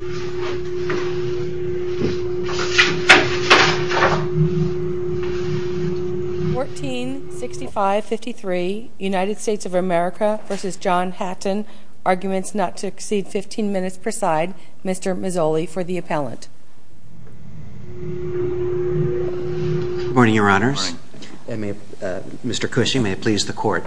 146553 United States of America v. John Hatton, Arguments Not to Exceed 15 Minutes Per Side, Mr. Mazzoli for the appellant. Good morning, your honors. Mr. Cushing, may it please the court.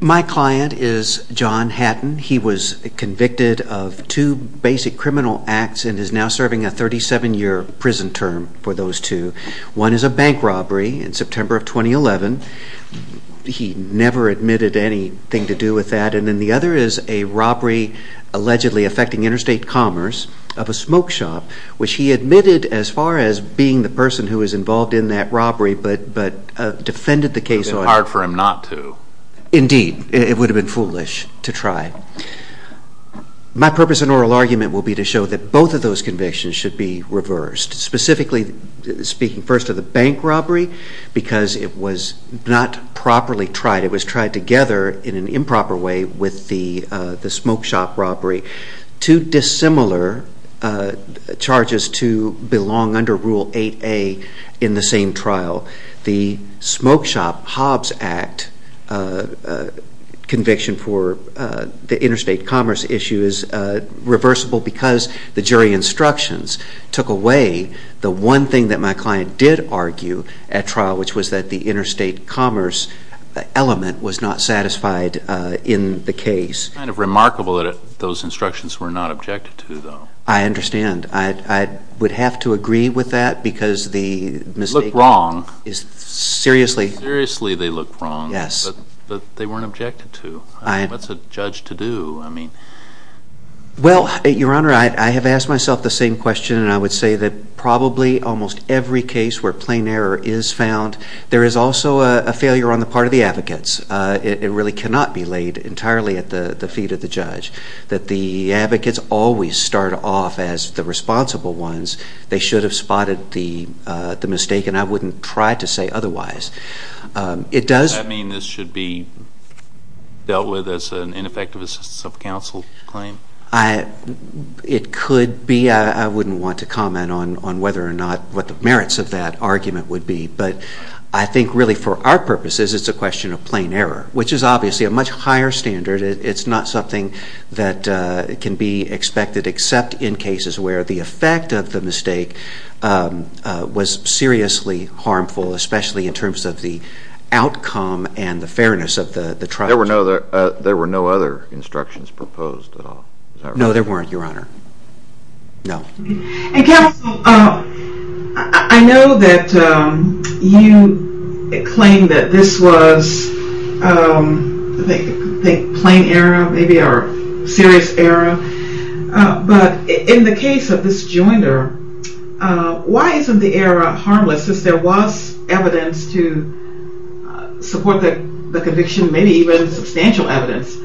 My client is John Hatton. He was convicted of two basic criminal acts and is now serving a 37-year prison term for those two. One is a bank robbery in September of 2011. He never admitted anything to do with that. And then the other is a robbery allegedly affecting interstate commerce of a smoke shop, which he admitted as far as being the person who was involved in that robbery but defended the case. It would have been hard for him not to. Indeed, it would have been foolish to try. My purpose in oral argument will be to show that both of those convictions should be reversed, specifically speaking first of the bank robbery because it was not properly tried. It was tried together in an improper way with the smoke shop robbery, two dissimilar charges to belong under Rule 8A in the same trial. The smoke shop Hobbs Act conviction for the interstate commerce issue is reversible because the jury instructions took away the one thing that my client did argue at trial, which was that the interstate commerce element was not satisfied in the case. It's kind of remarkable that those instructions were not objected to, though. I understand. I would have to agree with that because the mistake is seriously. They look wrong. Seriously, they look wrong. Yes. But they weren't objected to. What's a judge to do? Well, Your Honor, I have asked myself the same question, and I would say that probably almost every case where plain error is found, there is also a failure on the part of the advocates. It really cannot be laid entirely at the feet of the judge, that the advocates always start off as the responsible ones. They should have spotted the mistake, and I wouldn't try to say otherwise. Does that mean this should be dealt with as an ineffective assistance of counsel claim? It could be. I wouldn't want to comment on whether or not what the merits of that argument would be, but I think really for our purposes it's a question of plain error, which is obviously a much higher standard. It's not something that can be expected, except in cases where the effect of the mistake was seriously harmful, especially in terms of the outcome and the fairness of the trial. There were no other instructions proposed at all? No, there weren't, Your Honor. No. Counsel, I know that you claim that this was, I think, plain error, maybe, or serious error, but in the case of this joinder, why isn't the error harmless, since there was evidence to support the conviction, maybe even substantial evidence?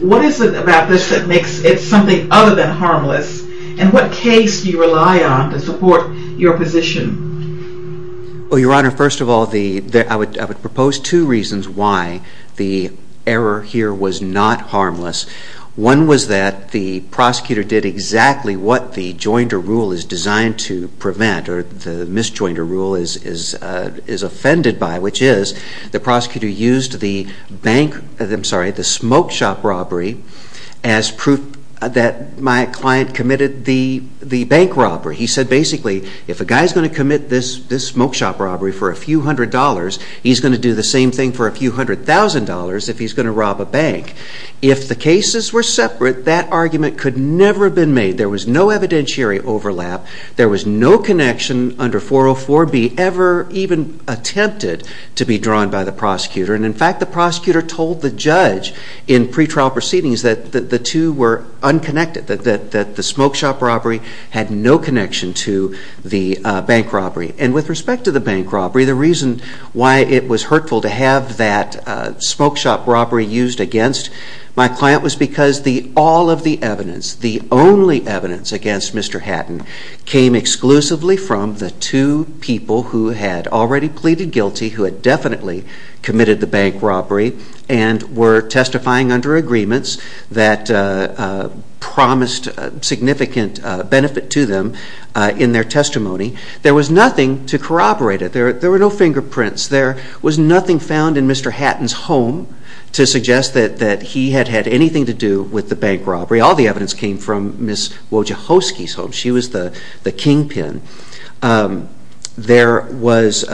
What is it about this that makes it something other than harmless, and what case do you rely on to support your position? Well, Your Honor, first of all, I would propose two reasons why the error here was not harmless. One was that the prosecutor did exactly what the joinder rule is designed to prevent or the misjoinder rule is offended by, which is the prosecutor used the smoke shop robbery as proof that my client committed the bank robbery. He said, basically, if a guy's going to commit this smoke shop robbery for a few hundred dollars, he's going to do the same thing for a few hundred thousand dollars if he's going to rob a bank. If the cases were separate, that argument could never have been made. There was no evidentiary overlap. There was no connection under 404B ever even attempted to be drawn by the prosecutor. And, in fact, the prosecutor told the judge in pretrial proceedings that the two were unconnected, that the smoke shop robbery had no connection to the bank robbery. And with respect to the bank robbery, the reason why it was hurtful to have that smoke shop robbery used against my client was because all of the evidence, the only evidence against Mr. Hatton, came exclusively from the two people who had already pleaded guilty, who had definitely committed the bank robbery, and were testifying under agreements that promised significant benefit to them in their testimony. There was nothing to corroborate it. There were no fingerprints. There was nothing found in Mr. Hatton's home to suggest that he had had anything to do with the bank robbery. All the evidence came from Ms. Wojciechowski's home. She was the kingpin. There was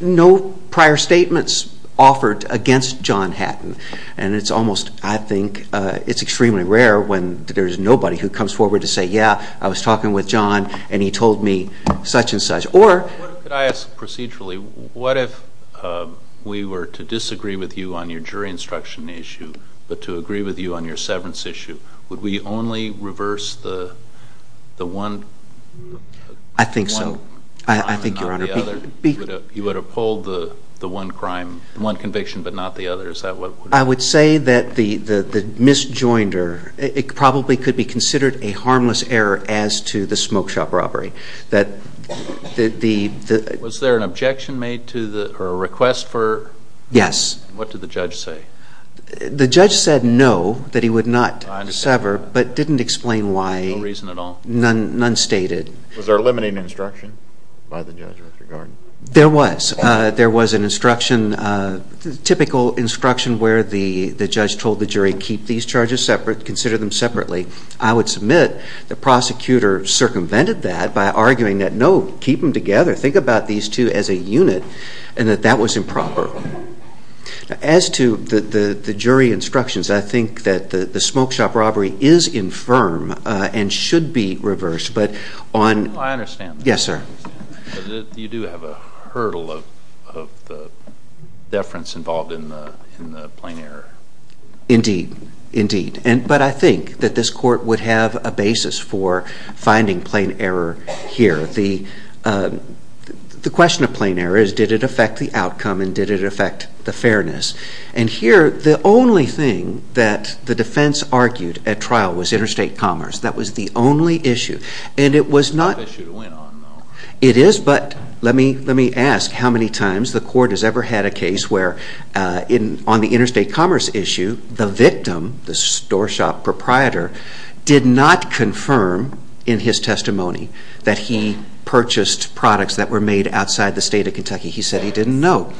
no prior statements offered against John Hatton, and it's almost, I think, it's extremely rare when there's nobody who comes forward to say, yeah, I was talking with John and he told me such and such. Could I ask procedurally, what if we were to disagree with you on your jury instruction issue, but to agree with you on your severance issue? Would we only reverse the one crime and not the other? I think so. I think, Your Honor. You would have pulled the one crime, one conviction, but not the other. Is that what would have happened? I would say that the misjoinder, it probably could be considered a harmless error as to the smoke shop robbery, that the- Was there an objection made to or a request for- Yes. What did the judge say? The judge said no, that he would not sever, but didn't explain why. No reason at all? None stated. Was there a limiting instruction by the judge with regard? There was. There was an instruction, typical instruction, where the judge told the jury, keep these charges separate, consider them separately. I would submit the prosecutor circumvented that by arguing that no, keep them together, think about these two as a unit, and that that was improper. As to the jury instructions, I think that the smoke shop robbery is infirm and should be reversed, but on- I understand that. Yes, sir. You do have a hurdle of the deference involved in the plain error. Indeed. Indeed. But I think that this court would have a basis for finding plain error here. The question of plain error is, did it affect the outcome and did it affect the fairness? And here, the only thing that the defense argued at trial was interstate commerce. That was the only issue, and it was not- It's not an issue to win on, though. It is, but let me ask how many times the court has ever had a case where on the interstate commerce issue, the victim, the store shop proprietor, did not confirm in his testimony that he purchased products that were made outside the state of Kentucky. He said he didn't know.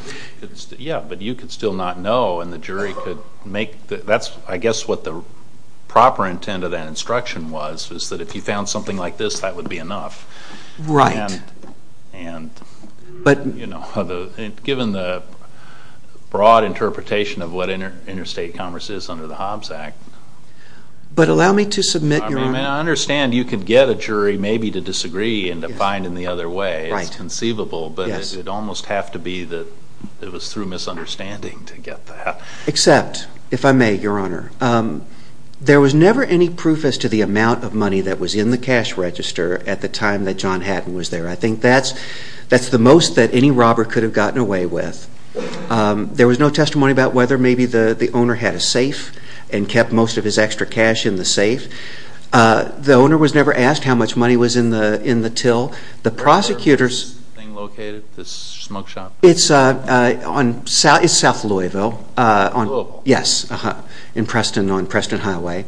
Yeah, but you could still not know, and the jury could make- That's, I guess, what the proper intent of that instruction was, was that if you found something like this, that would be enough. Right. Given the broad interpretation of what interstate commerce is under the Hobbs Act- But allow me to submit, Your Honor- I understand you could get a jury maybe to disagree and to find in the other way. It's conceivable, but it would almost have to be that it was through misunderstanding to get that. Except, if I may, Your Honor, there was never any proof as to the amount of money that was in the cash register at the time that John Haddon was there. I think that's the most that any robber could have gotten away with. There was no testimony about whether maybe the owner had a safe and kept most of his extra cash in the safe. The owner was never asked how much money was in the till. Where was this thing located, this smoke shop? It's south of Louisville. Louisville. Yes, in Preston, on Preston Highway.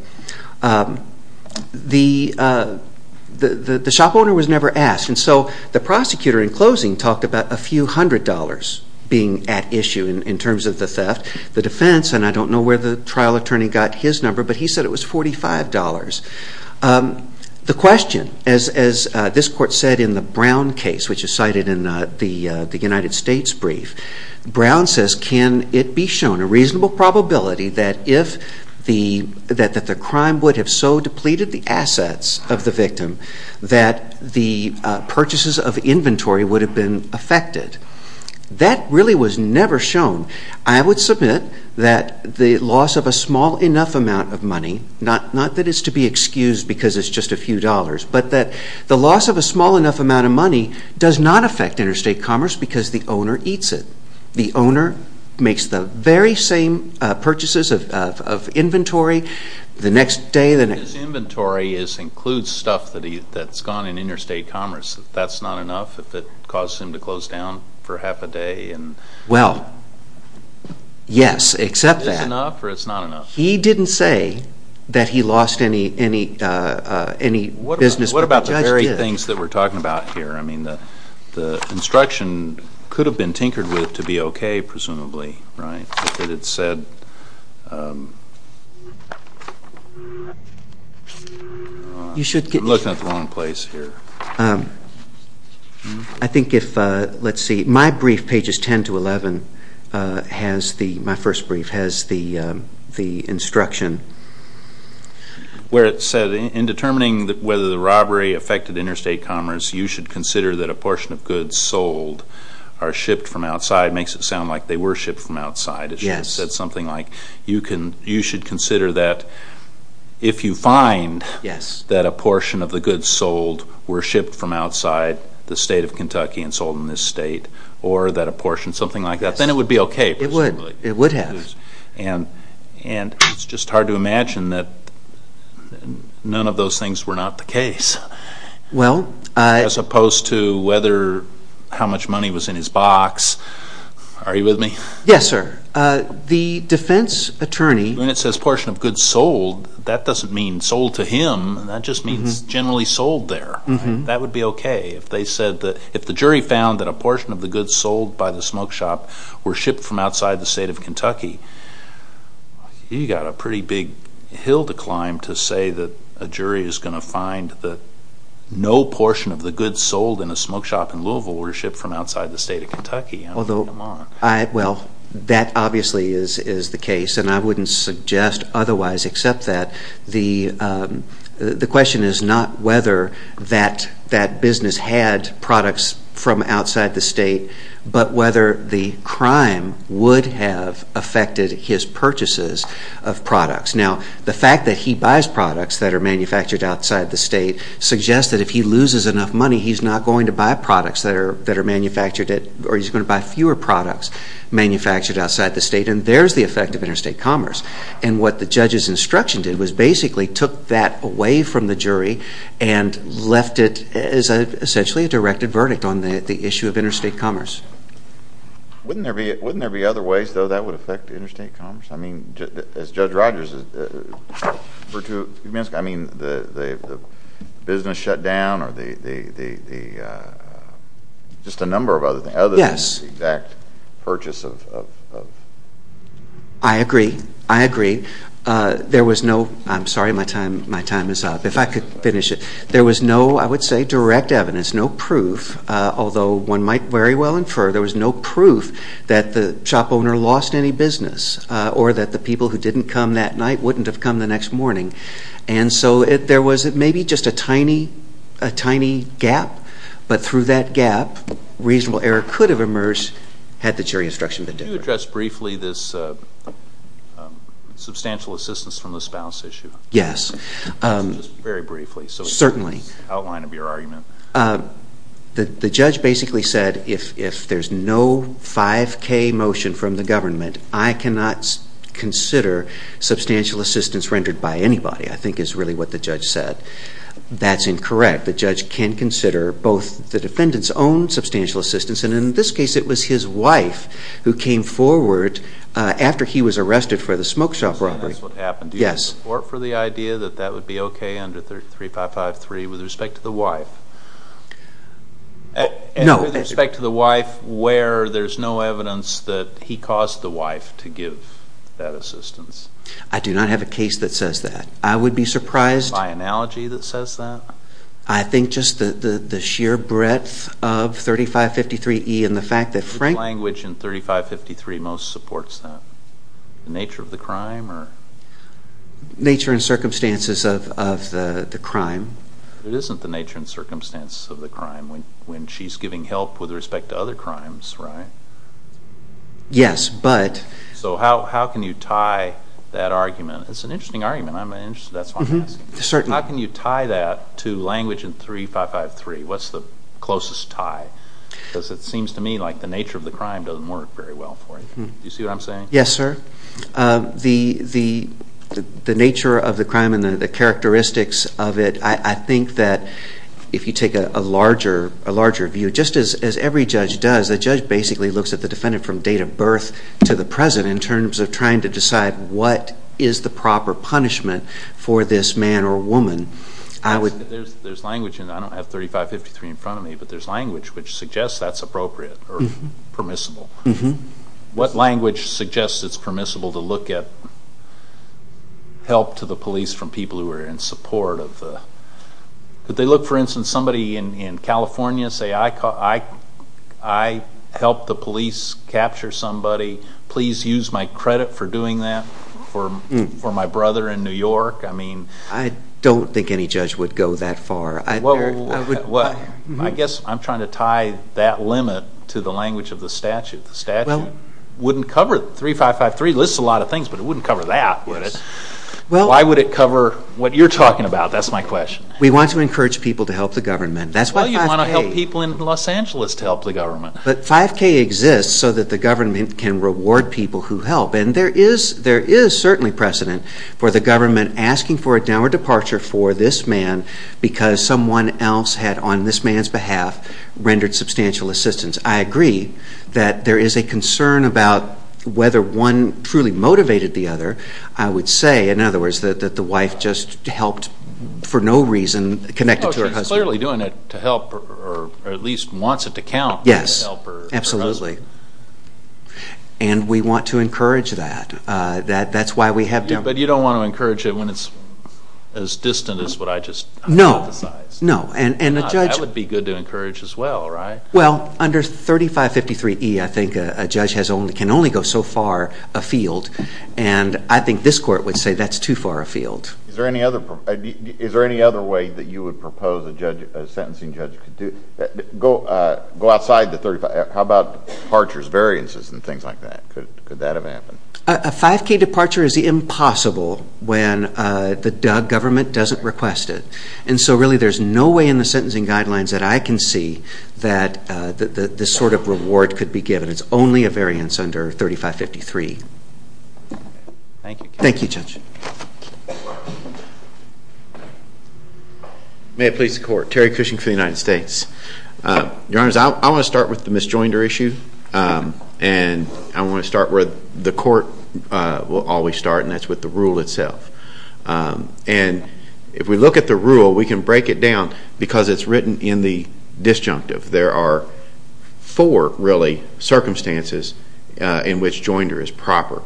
The shop owner was never asked. And so the prosecutor, in closing, talked about a few hundred dollars being at issue in terms of the theft. The defense, and I don't know where the trial attorney got his number, but he said it was $45. The question, as this Court said in the Brown case, which is cited in the United States brief, Brown says can it be shown a reasonable probability that if the crime would have so depleted the assets of the victim that the purchases of inventory would have been affected? That really was never shown. I would submit that the loss of a small enough amount of money, not that it's to be excused because it's just a few dollars, but that the loss of a small enough amount of money does not affect interstate commerce because the owner eats it. The owner makes the very same purchases of inventory the next day. His inventory includes stuff that's gone in interstate commerce. That's not enough if it causes him to close down for half a day? Well, yes, except that. Is it enough or it's not enough? He didn't say that he lost any business, but the judge did. What about the very things that we're talking about here? I mean, the instruction could have been tinkered with to be okay, presumably, right, that it said. I'm looking at the wrong place here. I think if, let's see, my brief, pages 10 to 11, my first brief has the instruction. Where it said, in determining whether the robbery affected interstate commerce, you should consider that a portion of goods sold are shipped from outside. It makes it sound like they were shipped from outside. Yes. You should consider that if you find that a portion of the goods sold were shipped from outside the state of Kentucky and sold in this state or that a portion, something like that, then it would be okay, presumably. It would have. And it's just hard to imagine that none of those things were not the case. Well. As opposed to whether how much money was in his box. Are you with me? Yes, sir. The defense attorney. When it says portion of goods sold, that doesn't mean sold to him. That just means generally sold there. That would be okay. If they said that, if the jury found that a portion of the goods sold by the smoke shop were shipped from outside the state of Kentucky, you've got a pretty big hill to climb to say that a jury is going to find that no portion of the goods sold in a smoke shop in Louisville were shipped from outside the state of Kentucky. Well, that obviously is the case. And I wouldn't suggest otherwise except that the question is not whether that business had products from outside the state, but whether the crime would have affected his purchases of products. Now, the fact that he buys products that are manufactured outside the state suggests that if he loses enough money, he's not going to buy products that are manufactured at or he's going to buy fewer products manufactured outside the state, and there's the effect of interstate commerce. And what the judge's instruction did was basically took that away from the jury and left it as essentially a directed verdict on the issue of interstate commerce. Wouldn't there be other ways, though, that would affect interstate commerce? I mean, as Judge Rogers, I mean, the business shut down or the just a number of other things. Yes. Other than the exact purchase of... I agree. I agree. There was no... I'm sorry, my time is up. If I could finish it. There was no, I would say, direct evidence, no proof, although one might very well infer there was no proof that the shop owner lost any business or that the people who didn't come that night wouldn't have come the next morning. And so there was maybe just a tiny, a tiny gap, but through that gap reasonable error could have emerged had the jury instruction been different. Could you address briefly this substantial assistance from the spouse issue? Yes. Just very briefly. Certainly. Outline of your argument. The judge basically said if there's no 5K motion from the government, I cannot consider substantial assistance rendered by anybody, I think is really what the judge said. That's incorrect. The judge can consider both the defendant's own substantial assistance, and in this case it was his wife who came forward after he was arrested for the smoke shop robbery. That's what happened. Yes. Do you support for the idea that that would be okay under 3553 with respect to the wife? No. With respect to the wife where there's no evidence that he caused the wife to give that assistance? I do not have a case that says that. I would be surprised. By analogy that says that? I think just the sheer breadth of 3553E and the fact that Frank What language in 3553 most supports that? The nature of the crime or? Nature and circumstances of the crime. It isn't the nature and circumstances of the crime when she's giving help with respect to other crimes, right? Yes, but. So how can you tie that argument? It's an interesting argument. That's why I'm asking. Certainly. How can you tie that to language in 3553? What's the closest tie? Because it seems to me like the nature of the crime doesn't work very well for you. Do you see what I'm saying? Yes, sir. The nature of the crime and the characteristics of it, I think that if you take a larger view, just as every judge does, the judge basically looks at the defendant from date of birth to the present in terms of trying to decide what is the proper punishment for this man or woman. There's language in that. I don't have 3553 in front of me, but there's language which suggests that's appropriate or permissible. What language suggests it's permissible to look at help to the police from people who are in support? Could they look, for instance, somebody in California and say, I helped the police capture somebody. Please use my credit for doing that for my brother in New York. I don't think any judge would go that far. I guess I'm trying to tie that limit to the language of the statute. The statute wouldn't cover 3553. It lists a lot of things, but it wouldn't cover that, would it? Why would it cover what you're talking about? That's my question. We want to encourage people to help the government. That's why 5K. Well, you'd want to help people in Los Angeles to help the government. But 5K exists so that the government can reward people who help. And there is certainly precedent for the government asking for a downward departure for this man because someone else had, on this man's behalf, rendered substantial assistance. I agree that there is a concern about whether one truly motivated the other. I would say, in other words, that the wife just helped for no reason connected to her husband. She's clearly doing it to help or at least wants it to count. Yes, absolutely. And we want to encourage that. That's why we have to. But you don't want to encourage it when it's as distant as what I just emphasized. No, no. That would be good to encourage as well, right? Well, under 3553E, I think a judge can only go so far afield, and I think this court would say that's too far afield. Is there any other way that you would propose a sentencing judge could do it? Go outside the 35. How about departures, variances, and things like that? Could that have happened? A 5K departure is impossible when the government doesn't request it. And so really there's no way in the sentencing guidelines that I can see that this sort of reward could be given. It's only a variance under 3553. Thank you. Thank you, Judge. May it please the Court. Terry Cushing for the United States. Your Honors, I want to start with the misjoinder issue, and I want to start where the court will always start, and that's with the rule itself. And if we look at the rule, we can break it down because it's written in the disjunctive. There are four, really, circumstances in which joinder is proper.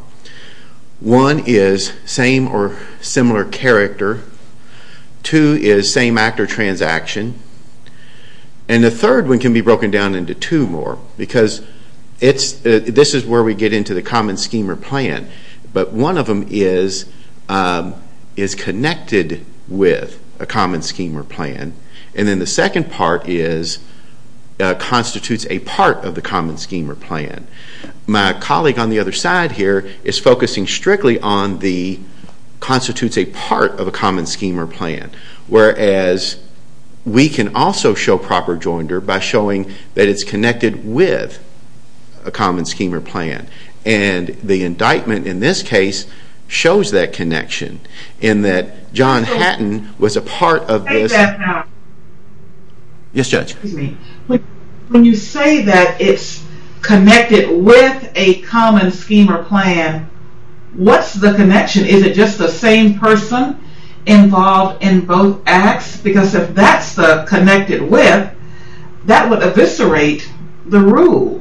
One is same or similar character. Two is same act or transaction. And the third one can be broken down into two more because this is where we get into the common scheme or plan. But one of them is connected with a common scheme or plan, and then the second part constitutes a part of the common scheme or plan. My colleague on the other side here is focusing strictly on the constitutes a part of a common scheme or plan, whereas we can also show proper joinder by showing that it's connected with a common scheme or plan. And the indictment in this case shows that connection in that John Hatton was a part of this. State that now. Yes, Judge. When you say that it's connected with a common scheme or plan, what's the connection? Is it just the same person involved in both acts? Because if that's the connected with, that would eviscerate the rule.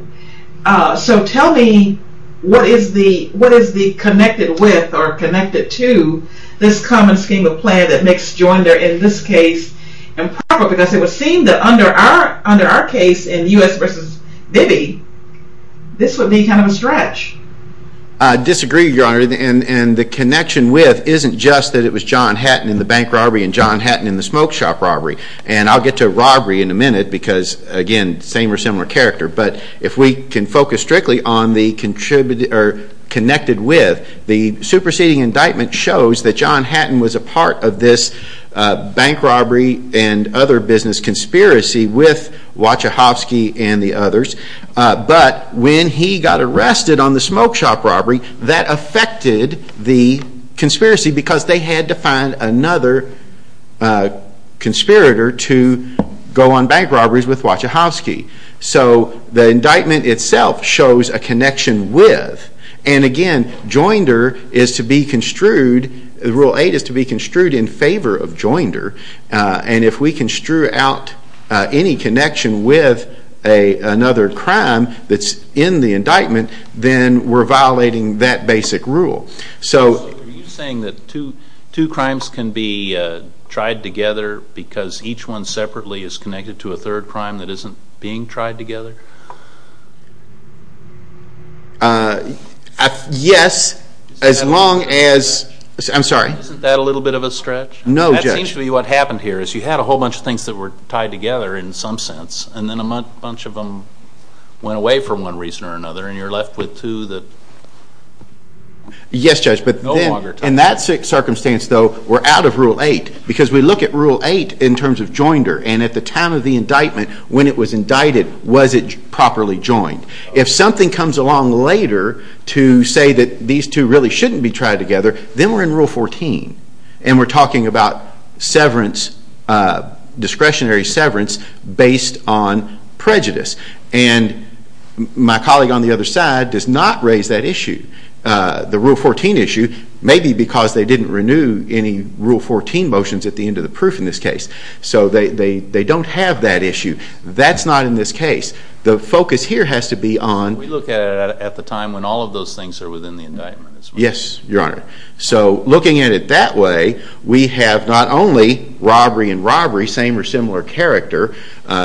So tell me what is the connected with or connected to this common scheme or plan that makes joinder in this case improper because it would seem that under our case in U.S. v. Bibby, this would be kind of a stretch. I disagree, Your Honor, and the connection with isn't just that it was John Hatton in the bank robbery and John Hatton in the smoke shop robbery. And I'll get to robbery in a minute because, again, same or similar character. But if we can focus strictly on the connected with, the superseding indictment shows that John Hatton was a part of this jointer business conspiracy with Wachachowski and the others. But when he got arrested on the smoke shop robbery, that affected the conspiracy because they had to find another conspirator to go on bank robberies with Wachachowski. So the indictment itself shows a connection with. And, again, joinder is to be construed, Rule 8 is to be construed in favor of joinder. And if we can strew out any connection with another crime that's in the indictment, then we're violating that basic rule. So are you saying that two crimes can be tried together because each one separately is connected to a third crime that isn't being tried together? Yes, as long as... I'm sorry. Isn't that a little bit of a stretch? No, Judge. That seems to be what happened here is you had a whole bunch of things that were tied together in some sense, and then a bunch of them went away for one reason or another, and you're left with two that no longer tie. Yes, Judge, but in that circumstance, though, we're out of Rule 8 because we look at Rule 8 in terms of joinder. And at the time of the indictment, when it was indicted, was it properly joined? If something comes along later to say that these two really shouldn't be tried together, then we're in Rule 14. And we're talking about discretionary severance based on prejudice. And my colleague on the other side does not raise that issue, the Rule 14 issue, maybe because they didn't renew any Rule 14 motions at the end of the proof in this case. So they don't have that issue. That's not in this case. The focus here has to be on... We look at it at the time when all of those things are within the indictment. Yes, Your Honor. So looking at it that way, we have not only robbery and robbery, same or similar character,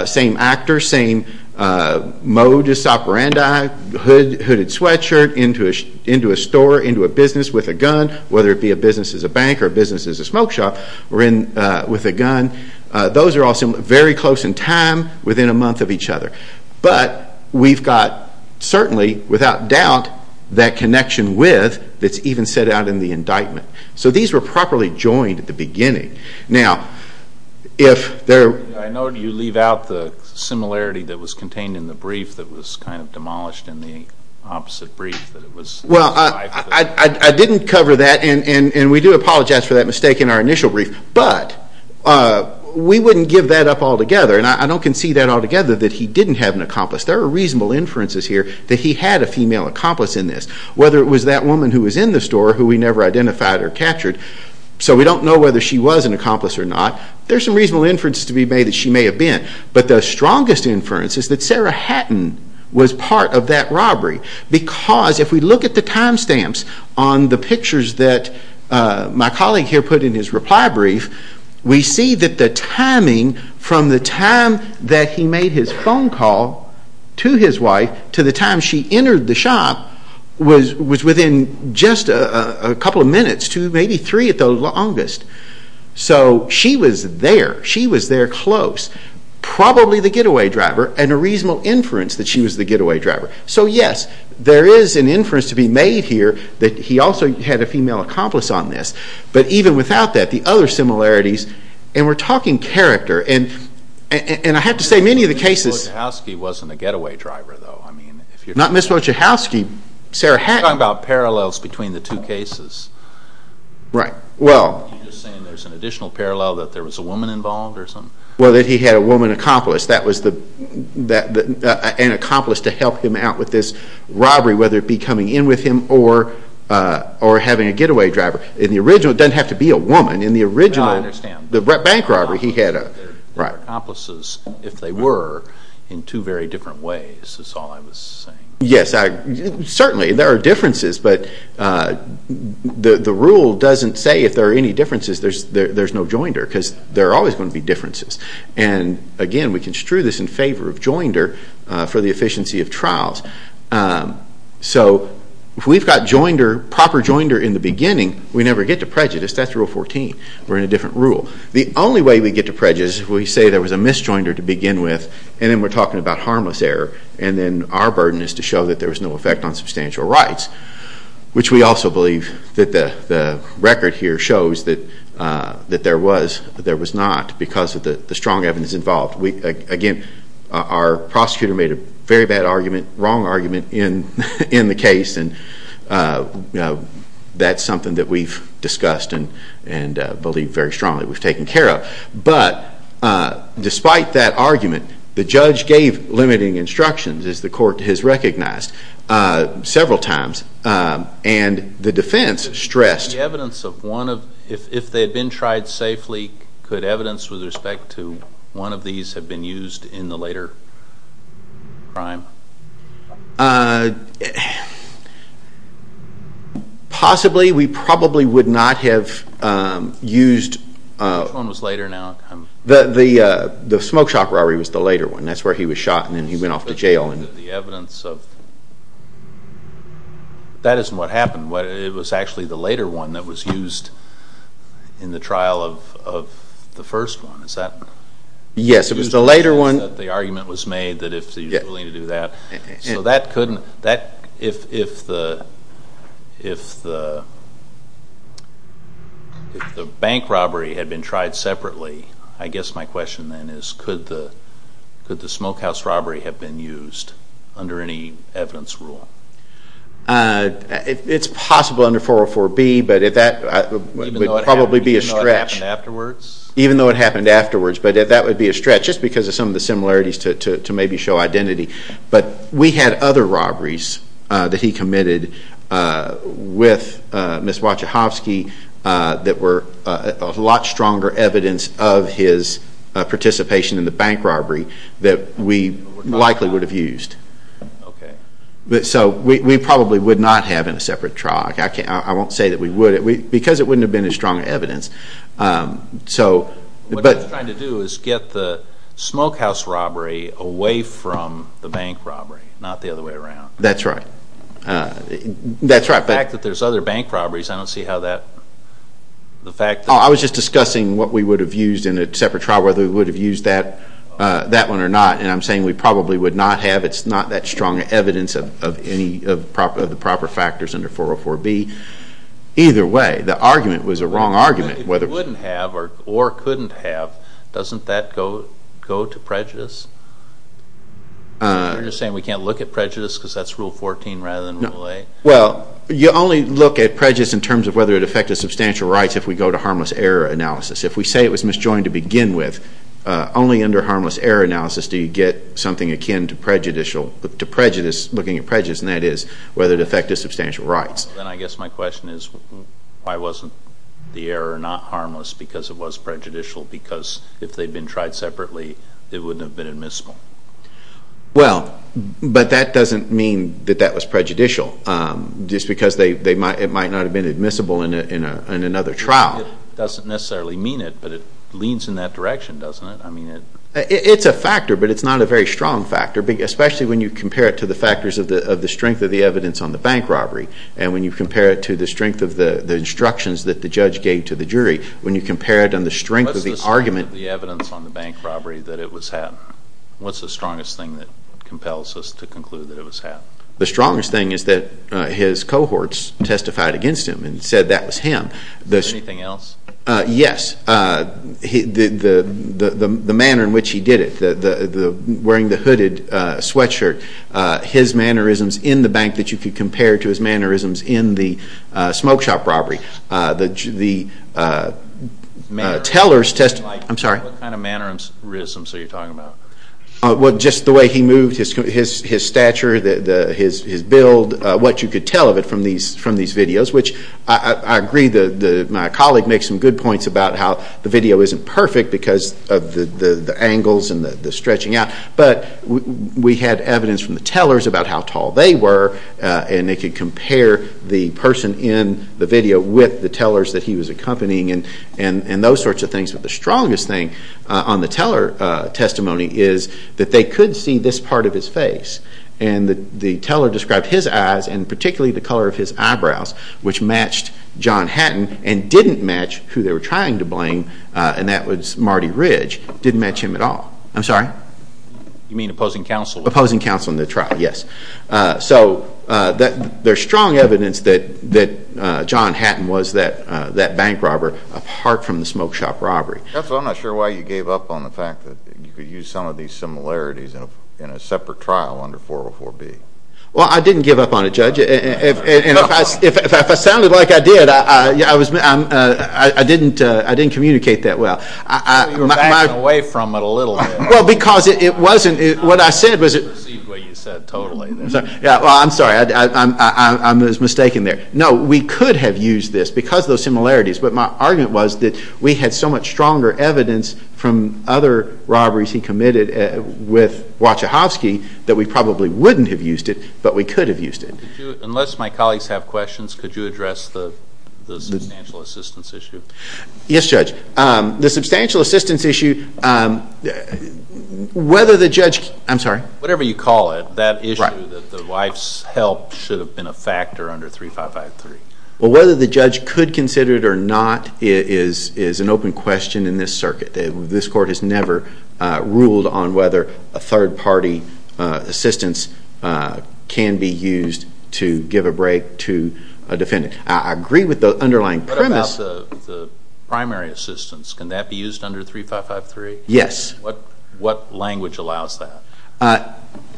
same actor, same modus operandi, hooded sweatshirt, into a store, into a business with a gun, whether it be a business as a bank or a business as a smoke shop, with a gun. Those are all very close in time, within a month of each other. But we've got certainly, without doubt, that connection with that's even set out in the indictment. So these were properly joined at the beginning. Now, if there... I note you leave out the similarity that was contained in the brief that was kind of demolished in the opposite brief. Well, I didn't cover that, and we do apologize for that mistake in our initial brief. But we wouldn't give that up altogether. And I don't concede that altogether, that he didn't have an accomplice. There are reasonable inferences here that he had a female accomplice in this, whether it was that woman who was in the store who we never identified or captured. So we don't know whether she was an accomplice or not. There are some reasonable inferences to be made that she may have been. But the strongest inference is that Sarah Hatton was part of that robbery because if we look at the time stamps on the pictures that my colleague here put in his reply brief, we see that the timing from the time that he made his phone call to his wife to the time she entered the shop was within just a couple of minutes to maybe three at the longest. So she was there. She was there close, probably the getaway driver, and a reasonable inference that she was the getaway driver. So, yes, there is an inference to be made here that he also had a female accomplice on this. But even without that, the other similarities, and we're talking character, and I have to say many of the cases- Ms. Wojcicki wasn't a getaway driver, though. Not Ms. Wojcicki. Sarah Hatton- You're talking about parallels between the two cases. Right. Well- You're just saying there's an additional parallel that there was a woman involved or something? Well, that he had a woman accomplice. That was an accomplice to help him out with this robbery, whether it be coming in with him or having a getaway driver. In the original, it doesn't have to be a woman. In the original- No, I understand. The bank robbery, he had a- The accomplices, if they were, in two very different ways is all I was saying. Yes, certainly there are differences, but the rule doesn't say if there are any differences there's no joinder because there are always going to be differences. And, again, we construe this in favor of joinder for the efficiency of trials. So if we've got proper joinder in the beginning, we never get to prejudice. That's Rule 14. We're in a different rule. The only way we get to prejudice is if we say there was a misjoinder to begin with and then we're talking about harmless error and then our burden is to show that there was no effect on substantial rights, which we also believe that the record here shows that there was not because of the strong evidence involved. Again, our prosecutor made a very bad argument, wrong argument in the case, and that's something that we've discussed and believe very strongly we've taken care of. But despite that argument, the judge gave limiting instructions, as the court has recognized, several times. And the defense stressed- If they had been tried safely, could evidence with respect to one of these have been used in the later crime? Possibly. We probably would not have used- Which one was later now? The smoke shop robbery was the later one. That's where he was shot and then he went off to jail. The evidence of-that isn't what happened. It was actually the later one that was used in the trial of the first one. Is that- Yes, it was the later one. The argument was made that if he was willing to do that. So that couldn't-if the bank robbery had been tried separately, I guess my question then is could the smokehouse robbery have been used under any evidence rule? It's possible under 404B, but that would probably be a stretch. Even though it happened afterwards? Even though it happened afterwards, but that would be a stretch just because of some of the similarities to maybe show identity. But we had other robberies that he committed with Ms. Wachachowski that were a lot stronger evidence of his participation in the bank robbery that we likely would have used. Okay. So we probably would not have in a separate trial. I won't say that we would because it wouldn't have been as strong evidence. What they're trying to do is get the smokehouse robbery away from the bank robbery, not the other way around. That's right. The fact that there's other bank robberies, I don't see how that- I was just discussing what we would have used in a separate trial, whether we would have used that one or not, and I'm saying we probably would not have. It's not that strong evidence of any of the proper factors under 404B. Either way, the argument was a wrong argument. If you wouldn't have or couldn't have, doesn't that go to prejudice? You're just saying we can't look at prejudice because that's Rule 14 rather than Rule 8? Well, you only look at prejudice in terms of whether it affected substantial rights if we go to harmless error analysis. If we say it was misjoined to begin with, only under harmless error analysis do you get something akin to prejudice, looking at prejudice, and that is whether it affected substantial rights. Then I guess my question is why wasn't the error not harmless because it was prejudicial, because if they'd been tried separately, it wouldn't have been admissible? Well, but that doesn't mean that that was prejudicial, just because it might not have been admissible in another trial. It doesn't necessarily mean it, but it leans in that direction, doesn't it? It's a factor, but it's not a very strong factor, especially when you compare it to the factors of the strength of the evidence on the bank robbery. And when you compare it to the strength of the instructions that the judge gave to the jury, when you compare it on the strength of the argument What's the strength of the evidence on the bank robbery that it was happened? What's the strongest thing that compels us to conclude that it was happened? The strongest thing is that his cohorts testified against him and said that was him. Anything else? Yes. The manner in which he did it, wearing the hooded sweatshirt, his mannerisms in the bank that you could compare to his mannerisms in the smoke shop robbery. The teller's testimony What kind of mannerisms are you talking about? Just the way he moved, his stature, his build, what you could tell of it from these videos, which I agree that my colleague makes some good points about how the video isn't perfect because of the angles and the stretching out, but we had evidence from the tellers about how tall they were and they could compare the person in the video with the tellers that he was accompanying and those sorts of things, but the strongest thing on the teller's testimony is that they could see this part of his face. And the teller described his eyes and particularly the color of his eyebrows, which matched John Hatton and didn't match who they were trying to blame, and that was Marty Ridge, didn't match him at all. I'm sorry? You mean opposing counsel? Opposing counsel in the trial, yes. So there's strong evidence that John Hatton was that bank robber apart from the smoke shop robbery. Counsel, I'm not sure why you gave up on the fact that you could use some of these similarities in a separate trial under 404B. Well, I didn't give up on it, Judge. And if I sounded like I did, I didn't communicate that well. I thought you were backing away from it a little bit. Well, because it wasn't, what I said was... I don't believe what you said totally. Yeah, well, I'm sorry, I was mistaken there. No, we could have used this because of those similarities. But my argument was that we had so much stronger evidence from other robberies he committed with Wachowkoski that we probably wouldn't have used it, but we could have used it. Unless my colleagues have questions, could you address the substantial assistance issue? Yes, Judge. The substantial assistance issue, whether the judge... I'm sorry? Whatever you call it, that issue that the wife's help should have been a factor under 3553. Well, whether the judge could consider it or not is an open question in this circuit. This court has never ruled on whether a third-party assistance can be used to give a break to a defendant. I agree with the underlying premise... What about the primary assistance? Can that be used under 3553? Yes. What language allows that?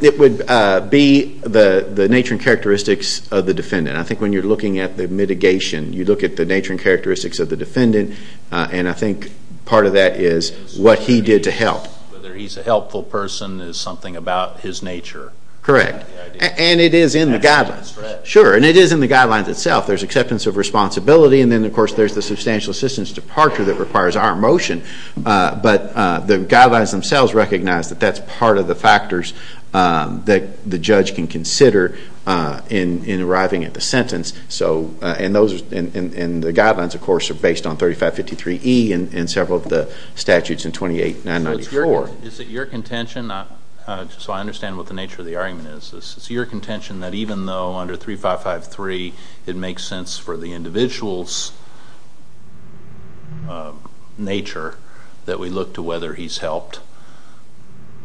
It would be the nature and characteristics of the defendant. I think when you're looking at the mitigation, you look at the nature and characteristics of the defendant, and I think part of that is what he did to help. Whether he's a helpful person is something about his nature. Correct. And it is in the guidelines. Sure, and it is in the guidelines itself. There's acceptance of responsibility, and then, of course, there's the substantial assistance departure that requires our motion. But the guidelines themselves recognize that that's part of the factors that the judge can consider in arriving at the sentence, and the guidelines, of course, are based on 3553E and several of the statutes in 28994. Is it your contention, so I understand what the nature of the argument is, Is it your contention that even though under 3553 it makes sense for the individual's nature that we look to whether he's helped,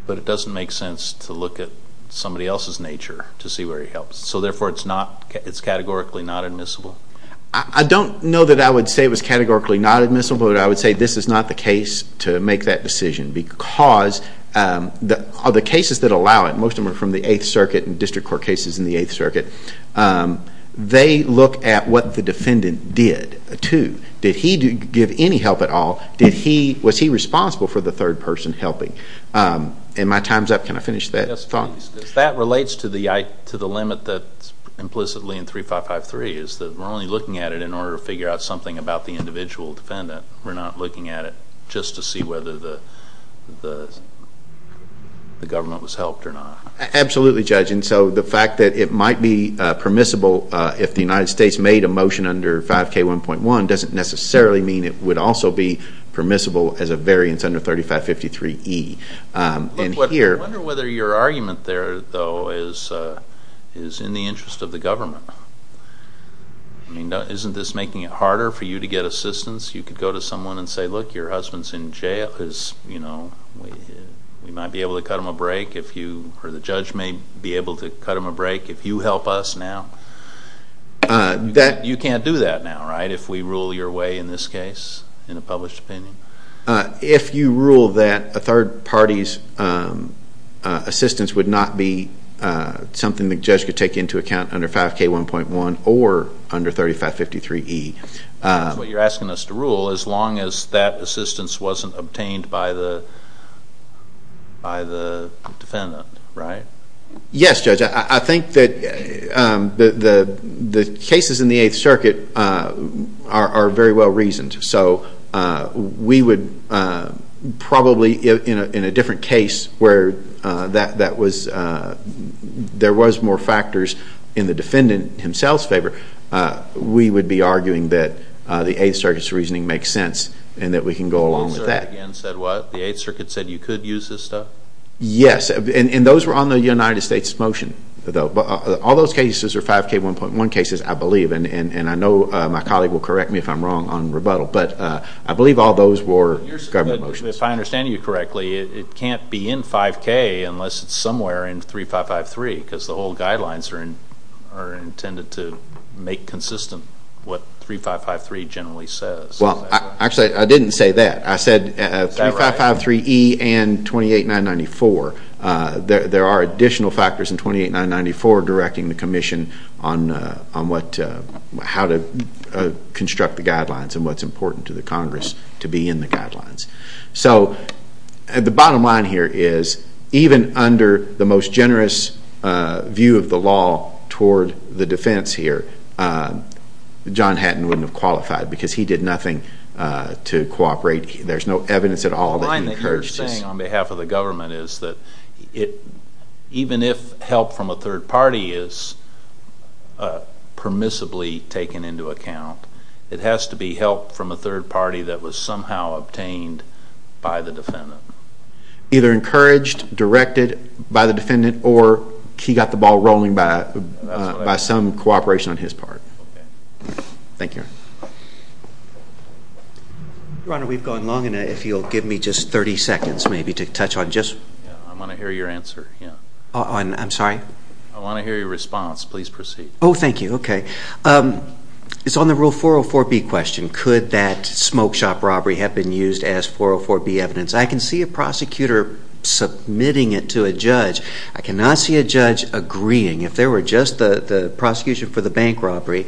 but it doesn't make sense to look at somebody else's nature to see where he helps? So, therefore, it's categorically not admissible? I don't know that I would say it was categorically not admissible, but I would say this is not the case to make that decision because of the cases that allow it. Most of them are from the Eighth Circuit and district court cases in the Eighth Circuit. They look at what the defendant did, too. Did he give any help at all? Was he responsible for the third person helping? Am I time's up? Can I finish that thought? Yes, please. If that relates to the limit that's implicitly in 3553, it's that we're only looking at it in order to figure out something about the individual defendant. We're not looking at it just to see whether the government was helped or not. Absolutely, Judge. And so the fact that it might be permissible if the United States made a motion under 5K1.1 doesn't necessarily mean it would also be permissible as a variance under 3553E. I wonder whether your argument there, though, is in the interest of the government. Isn't this making it harder for you to get assistance? You could go to someone and say, look, your husband's in jail. We might be able to cut him a break, or the judge may be able to cut him a break if you help us now. You can't do that now, right, if we rule your way in this case in a published opinion? If you rule that a third party's assistance would not be something the judge could take into account under 5K1.1 or under 3553E. That's what you're asking us to rule, as long as that assistance wasn't obtained by the defendant, right? Yes, Judge. I think that the cases in the Eighth Circuit are very well reasoned. So we would probably, in a different case where there was more factors in the defendant himself's favor, we would be arguing that the Eighth Circuit's reasoning makes sense and that we can go along with that. The Eighth Circuit again said what? The Eighth Circuit said you could use this stuff? Yes. And those were on the United States motion. All those cases are 5K1.1 cases, I believe, and I know my colleague will correct me if I'm wrong on rebuttal, but I believe all those were government motions. If I understand you correctly, it can't be in 5K unless it's somewhere in 3553, because the whole guidelines are intended to make consistent what 3553 generally says. Well, actually, I didn't say that. I said 3553E and 28994. There are additional factors in 28994 directing the commission on how to construct the guidelines and what's important to the Congress to be in the guidelines. So the bottom line here is even under the most generous view of the law toward the defense here, John Hatton wouldn't have qualified because he did nothing to cooperate. There's no evidence at all that he encouraged this. The line that you're saying on behalf of the government is that even if help from a third party is permissibly taken into account, it has to be help from a third party that was somehow obtained by the defendant. Either encouraged, directed by the defendant, or he got the ball rolling by some cooperation on his part. Thank you. Your Honor, we've gone long enough. If you'll give me just 30 seconds maybe to touch on just... I want to hear your answer. I'm sorry? I want to hear your response. Please proceed. Oh, thank you. Okay. It's on the Rule 404B question. Could that smoke shop robbery have been used as 404B evidence? I can see a prosecutor submitting it to a judge. I cannot see a judge agreeing. If there were just the prosecution for the bank robbery,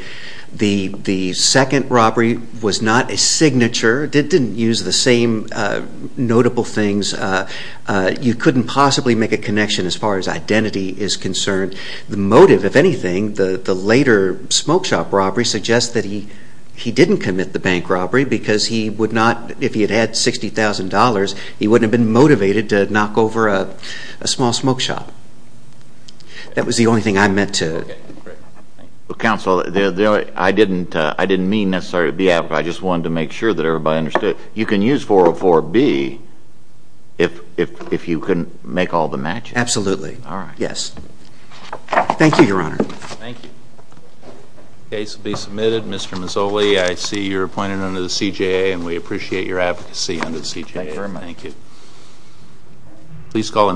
the second robbery was not a signature. It didn't use the same notable things. You couldn't possibly make a connection as far as identity is concerned. The motive, if anything, the later smoke shop robbery suggests that he didn't commit the bank robbery because he would not, if he had had $60,000, he wouldn't have been motivated to knock over a small smoke shop. That was the only thing I meant to... Okay, great. Counsel, I didn't mean necessarily to be apathetic. I just wanted to make sure that everybody understood. You can use 404B if you can make all the matches. Absolutely. All right. Yes. Thank you, Your Honor. Thank you. The case will be submitted. Mr. Mazzoli, I see you're appointed under the CJA, and we appreciate your advocacy under the CJA. Thank you very much. Thank you.